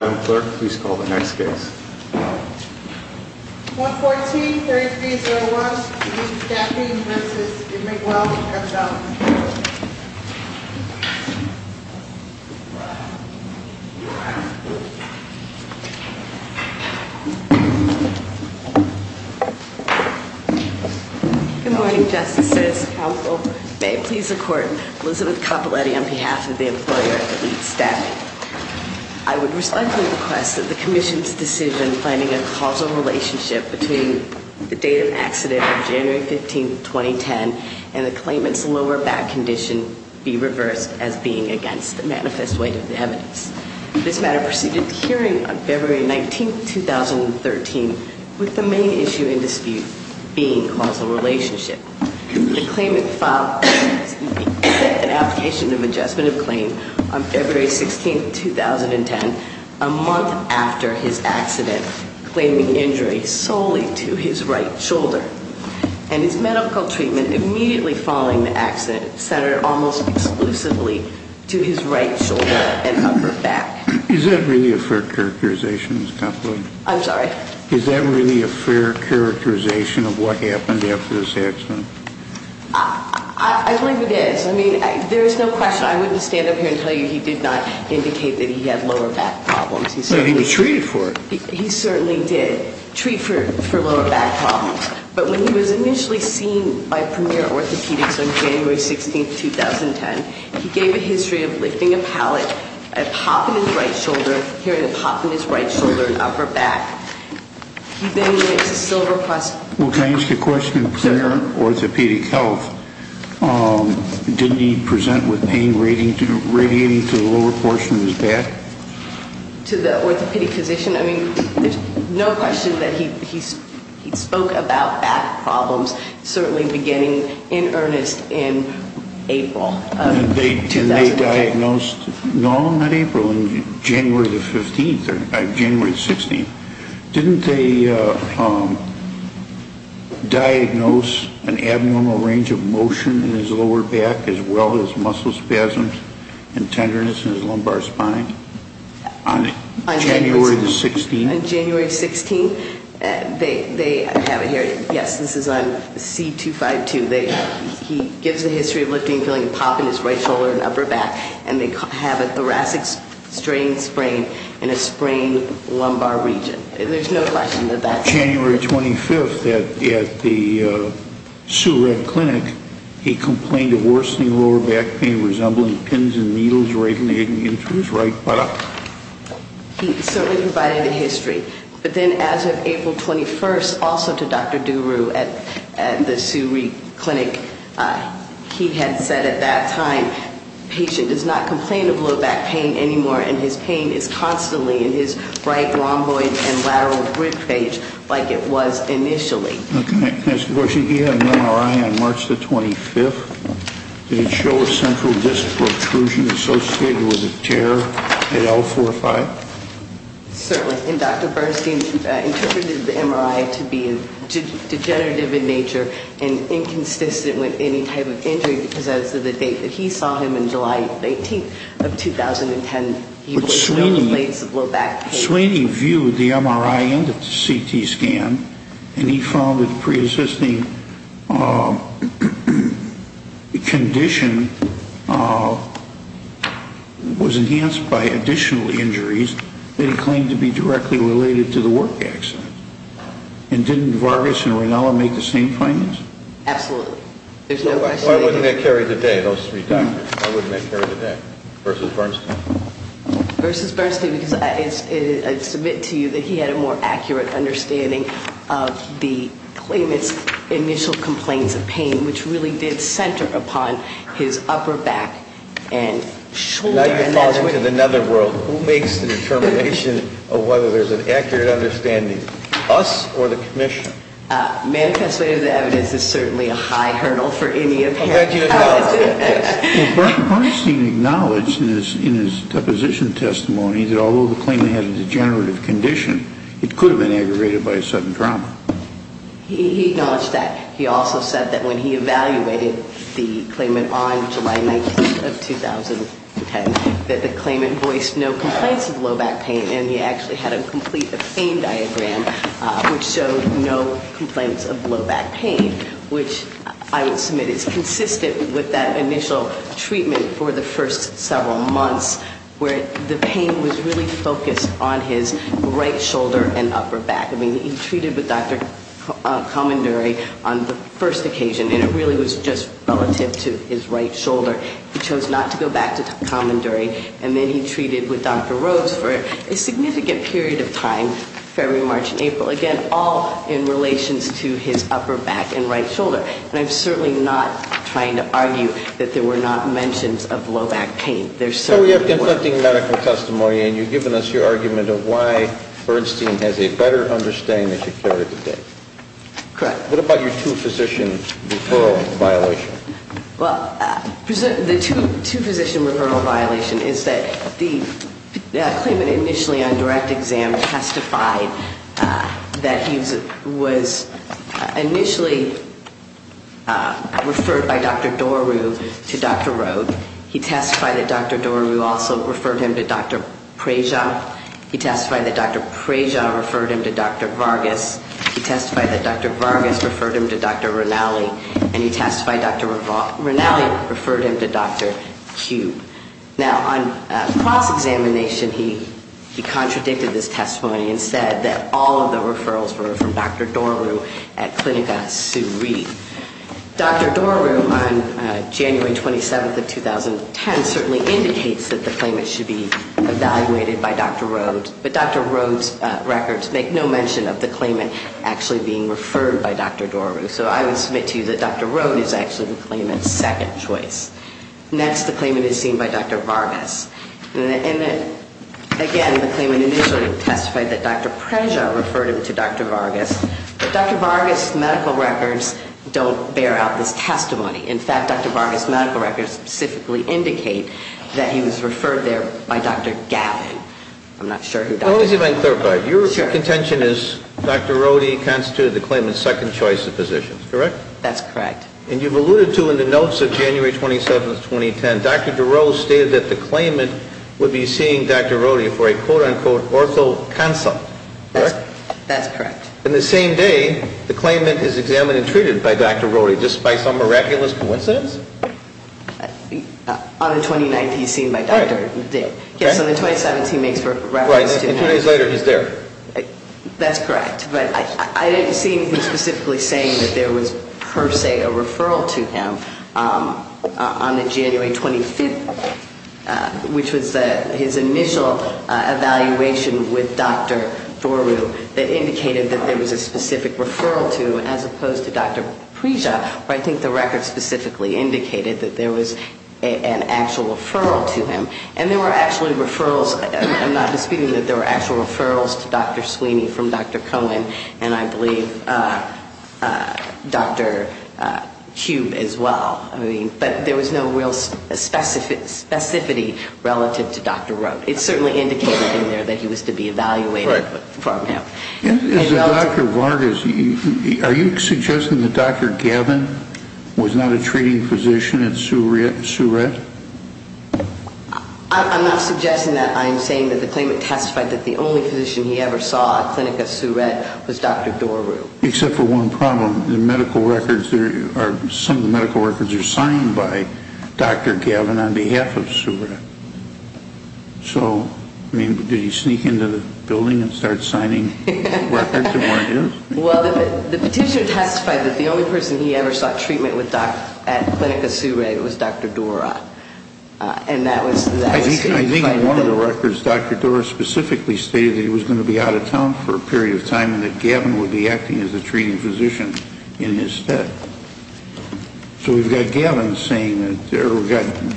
Madam Clerk, please call the next case. 114-3301, Elite Staffing v. Edmond Gwendolyn Good morning, Justices. Council may please accord Elizabeth Capoletti on behalf of the employer Elite Staffing. I would respectfully request that the Commission's decision planning a causal relationship between the date of accident of January 15, 2010, and the claimant's lower back condition be reversed as being against the manifest weight of the evidence. This matter proceeded to hearing on February 19, 2013, with the main issue in dispute being causal relationship. The claimant filed an application of adjustment of claim on February 16, 2010, a month after his accident, claiming injury solely to his right shoulder. And his medical treatment immediately following the accident centered almost exclusively to his right shoulder and upper back. Is that really a fair characterization, Ms. Capoletti? I'm sorry? Is that really a fair characterization of what happened after this accident? I believe it is. I mean, there is no question. I wouldn't stand up here and tell you he did not indicate that he had lower back problems. He was treated for it. He certainly did. Treat for lower back problems. But when he was initially seen by Premier Orthopedics on January 16, 2010, he gave a history of lifting a pallet, a pop in his right shoulder, hearing a pop in his right shoulder and upper back. He then went to Silver Cross. Well, can I ask a question? Sure. Premier Orthopedic Health, didn't he present with pain radiating to the lower portion of his back? To the orthopedic physician? I mean, there's no question that he spoke about back problems, certainly beginning in earnest in April of 2014. And they diagnosed, no, not April, January the 15th or January the 16th. Didn't they diagnose an abnormal range of motion in his lower back as well as muscle spasms and tenderness in his lumbar spine? On January the 16th? On January 16th, they have it here. Yes, this is on C252. He gives a history of lifting, feeling a pop in his right shoulder and upper back, and they have a thoracic strain sprain in a sprained lumbar region. There's no question that that's there. January 25th at the Sue Redd Clinic, he complained of worsening lower back pain resembling pins and needles radiating into his right buttock. He certainly provided a history. But then as of April 21st, also to Dr. Duru at the Sue Reed Clinic, he had said at that time, patient does not complain of lower back pain anymore, and his pain is constantly in his right rhomboid and lateral rib cage like it was initially. Okay. And there was a tear at L45? Certainly. And Dr. Bernstein interpreted the MRI to be degenerative in nature and inconsistent with any type of injury because as of the date that he saw him, on July 18th of 2010, he was on plates of low back pain. Sweeney viewed the MRI end of the CT scan and he found that the preexisting condition was enhanced by additional injuries that he claimed to be directly related to the work accident. And didn't Vargas and Rinella make the same findings? Absolutely. There's no question. Why wouldn't that carry the day, those three doctors? Why wouldn't that carry the day versus Bernstein? Versus Bernstein because I submit to you that he had a more accurate understanding of the claimant's initial complaints of pain, which really did center upon his upper back and shoulder. Now you're falling into the netherworld. Who makes the determination of whether there's an accurate understanding? Us or the commission? Manifest way of the evidence is certainly a high hurdle for any of us. Bernstein acknowledged in his deposition testimony that although the claimant had a degenerative condition, it could have been aggravated by a sudden trauma. He acknowledged that. He also said that when he evaluated the claimant on July 19th of 2010, that the claimant voiced no complaints of low back pain and he actually had a complete pain diagram which showed no complaints of low back pain, which I would submit is consistent with that initial treatment for the first several months where the pain was really focused on his right shoulder and upper back. I mean, he treated with Dr. Comondory on the first occasion and it really was just relative to his right shoulder. He chose not to go back to Comondory and then he treated with Dr. Rhodes for a significant period of time, February, March, and April. Again, all in relations to his upper back and right shoulder. And I'm certainly not trying to argue that there were not mentions of low back pain. There certainly were. So we have conflicting medical testimony and you've given us your argument of why Bernstein has a better understanding of security today. Correct. What about your two physician referral violation? Well, the two physician referral violation is that the claimant initially on direct exam testified that he was initially referred by Dr. Doru to Dr. Rhodes. He testified that Dr. Doru also referred him to Dr. Preja. He testified that Dr. Preja referred him to Dr. Vargas. He testified that Dr. Vargas referred him to Dr. Rinaldi. And he testified that Dr. Rinaldi referred him to Dr. Kube. Now, on cross-examination, he contradicted this testimony and said that all of the referrals were from Dr. Doru at Clinica Suri. Dr. Doru, on January 27th of 2010, certainly indicates that the claimant should be evaluated by Dr. Rhodes, but Dr. Rhodes' records make no mention of the claimant actually being referred by Dr. Doru. So I would submit to you that Dr. Rhodes is actually the claimant's second choice. Next, the claimant is seen by Dr. Vargas. And again, the claimant initially testified that Dr. Preja referred him to Dr. Vargas, but Dr. Vargas' medical records don't bear out this testimony. In fact, Dr. Vargas' medical records specifically indicate that he was referred there by Dr. Gavin. I'm not sure who Dr. Gavin is. Now, let me see if I can clarify. Your contention is Dr. Rhodes constituted the claimant's second choice of physicians, correct? That's correct. And you've alluded to in the notes of January 27th, 2010, Dr. Doru stated that the claimant would be seeing Dr. Rhodes for a, quote-unquote, ortho consult, correct? That's correct. And the same day, the claimant is examined and treated by Dr. Rhodes, just by some miraculous coincidence? On the 29th, he's seen by Dr. Doru. Yes, on the 27th, he makes records. Right, and two days later, he's there. That's correct. But I didn't see him specifically saying that there was per se a referral to him. On the January 25th, which was his initial evaluation with Dr. Doru, that indicated that there was a specific referral to him as opposed to Dr. Preja, where I think the record specifically indicated that there was an actual referral to him. And there were actually referrals. I'm not disputing that there were actual referrals to Dr. Sweeney from Dr. Cohen and, I believe, Dr. Cube as well. I mean, but there was no real specificity relative to Dr. Rhodes. It certainly indicated in there that he was to be evaluated from him. As to Dr. Vargas, are you suggesting that Dr. Gavin was not a treating physician at Sourette? I'm not suggesting that. I'm saying that the claimant testified that the only physician he ever saw at Clinica Sourette was Dr. Doru. Except for one problem. The medical records, some of the medical records are signed by Dr. Gavin on behalf of Sourette. So, I mean, did he sneak into the building and start signing records that weren't his? Well, the petitioner testified that the only person he ever saw treatment with at Clinica Sourette was Dr. Doru. And that was his claim. I think in one of the records, Dr. Doru specifically stated that he was going to be out of town for a period of time and that Gavin would be acting as a treating physician in his stead. So we've got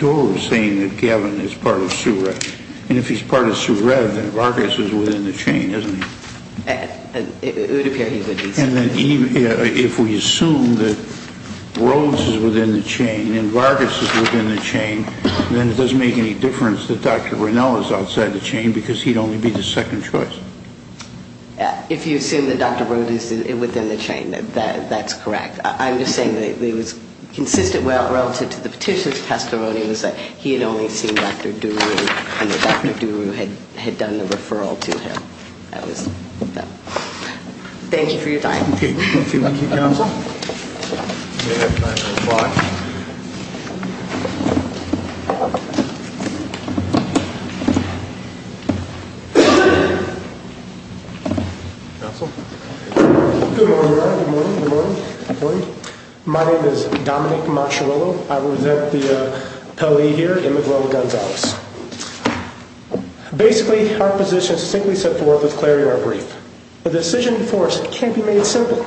Doru saying that Gavin is part of Sourette. And if he's part of Sourette, then Vargas is within the chain, isn't he? It would appear he would be. And then if we assume that Rhodes is within the chain and Vargas is within the chain, then it doesn't make any difference that Dr. Rinell is outside the chain because he'd only be the second choice. If you assume that Dr. Rhodes is within the chain, that's correct. I'm just saying that it was consistent relative to the petitioner's testimony, was that he had only seen Dr. Doru and that Dr. Doru had done the referral to him. That was that. Thank you for your time. Thank you. Thank you. Counsel? Counsel? Counsel? Good morning, everyone. Good morning. Good morning. Good morning. My name is Dominic Macchiarello. I will present the penalty here in Miguel Gonzalez. Basically, our position is simply set forth with clarity in our brief. The decision before us can't be made simple.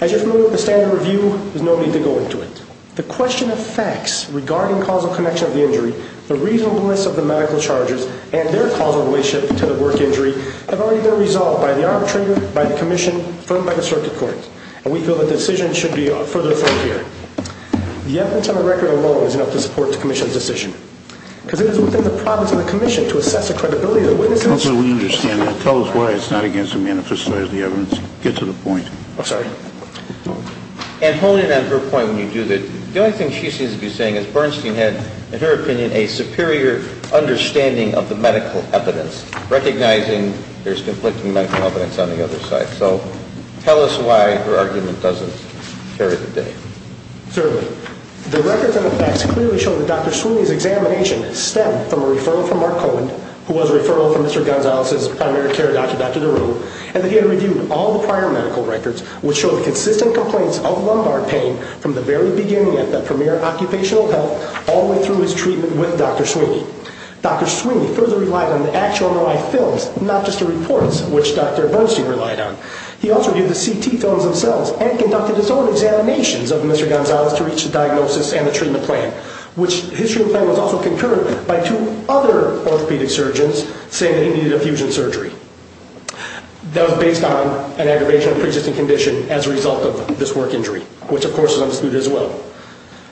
As you're familiar with the standard review, there's no need to go into it. The question of facts regarding causal connection of the injury, the reasonableness of the medical charges, and their causal relationship to the work injury have already been resolved by the arbitrator, by the commission, and by the circuit court. We feel the decision should be further affirmed here. The evidence on the record alone is enough to support the commission's decision. Because it is within the province and the commission to assess the credibility of the witnesses. Counsel, we understand that. Tell us why it's not against the manifesto of the evidence. Get to the point. I'm sorry? And holding on to her point when you do that, the only thing she seems to be saying is Bernstein had, in her opinion, a superior understanding of the medical evidence, recognizing there's conflicting medical evidence on the other side. So tell us why her argument doesn't carry the day. Certainly. The records and the facts clearly show that Dr. Sweeney's examination stemmed from a referral from Mark Cohen, who was a referral from Mr. Gonzalez's primary care doctor, Dr. DeRue, and that he had reviewed all the prior medical records, which show the consistent complaints of lumbar pain from the very beginning at the premier occupational health all the way through his treatment with Dr. Sweeney. Dr. Sweeney further relied on the actual MRI films, not just the reports, which Dr. Bernstein relied on. He also reviewed the CT films themselves and conducted his own examinations of Mr. Gonzalez to reach a diagnosis and a treatment plan, which his treatment plan was also concurred by two other orthopedic surgeons saying that he needed a fusion surgery. That was based on an aggravation of a pre-existing condition as a result of this work injury, which, of course, is understood as well.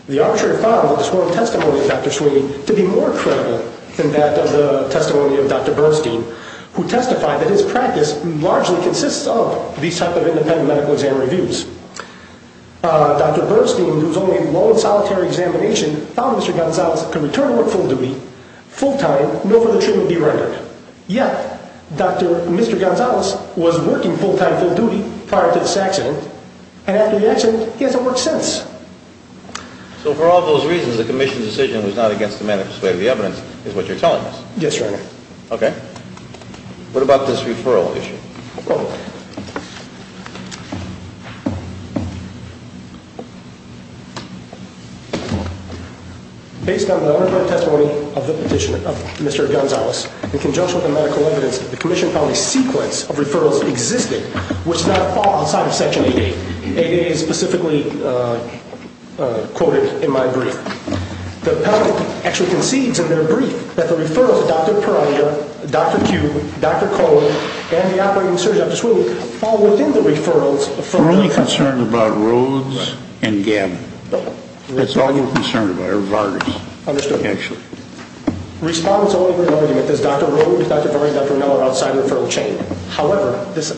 The arbitrator filed a sworn testimony of Dr. Sweeney to be more credible than that of the testimony of Dr. Bernstein, who testified that his practice largely consists of these type of independent medical exam reviews. Dr. Bernstein, whose only lone, solitary examination found Mr. Gonzalez could return to work full duty, full time, no further treatment be rendered. Yet, Dr. Mr. Gonzalez was working full time, full duty prior to this accident, and after the accident, he hasn't worked since. So for all those reasons, the commission's decision was not against the manifest way of the evidence is what you're telling us? Yes, Your Honor. Okay. What about this referral issue? Go ahead. Based on the underwritten testimony of Mr. Gonzalez, in conjunction with the medical evidence, the commission found a sequence of referrals existing, which is not outside of Section 8A. 8A is specifically quoted in my brief. The appellate actually concedes in their brief that the referrals of Dr. Peralia, Dr. Q, Dr. Cohen, and the operating surgeon, Dr. Sweeney, We're only concerned about Rhodes and Gabbin. That's all we're concerned about, or Vardy. Understood. Actually. Respondents' only real argument is Dr. Rhodes, Dr. Vardy, Dr. O'Neil are outside the referral chain. However, this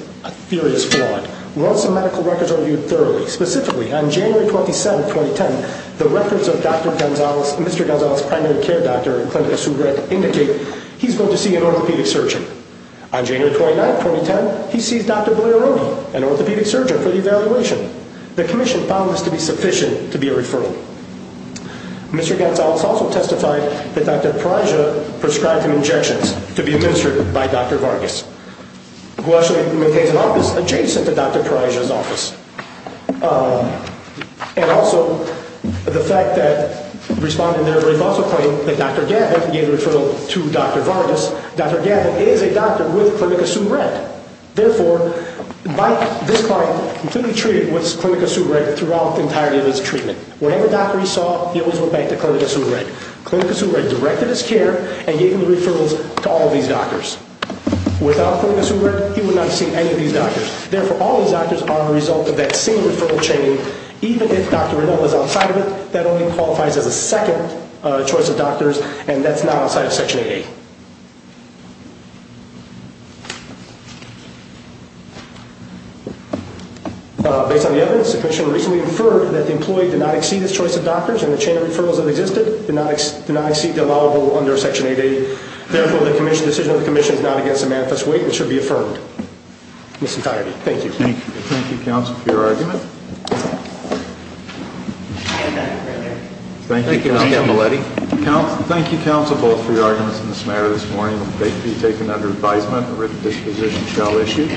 theory is flawed. We want some medical records reviewed thoroughly. Specifically, on January 27, 2010, the records of Dr. Gonzalez, Mr. Gonzalez's primary care doctor, indicated he's going to see an orthopedic surgeon. On January 29, 2010, he sees Dr. Boyer-Roney, an orthopedic surgeon, for the evaluation. The commission found this to be sufficient to be a referral. Mr. Gonzalez also testified that Dr. Parajia prescribed him injections to be administered by Dr. Vargas, who actually maintains an office adjacent to Dr. Parajia's office. And also, the fact that respondents there have also claimed that Dr. Gabbin gave the referral to Dr. Vargas, Dr. Gabbin is a doctor with Clinica Sudrette. Therefore, by this point, he's been treated with Clinica Sudrette throughout the entirety of his treatment. Whatever doctor he saw, he always went back to Clinica Sudrette. Clinica Sudrette directed his care and gave him the referrals to all these doctors. Without Clinica Sudrette, he would not have seen any of these doctors. Therefore, all these doctors are a result of that single referral chain. Even if Dr. Renauld is outside of it, that only qualifies as a second choice of doctors, and that's not outside of Section 8A. Based on the evidence, the Commission recently inferred that the employee did not exceed his choice of doctors, and the chain of referrals that existed did not exceed the allowable under Section 8A. Therefore, the decision of the Commission is not against a manifest weight, and should be affirmed. Thank you. Thank you, Counsel, for your argument. Thank you, Counsel Capaletti. Thank you, Counsel, both for your arguments in this matter this morning. They can be taken under advisement. A written disposition shall issue.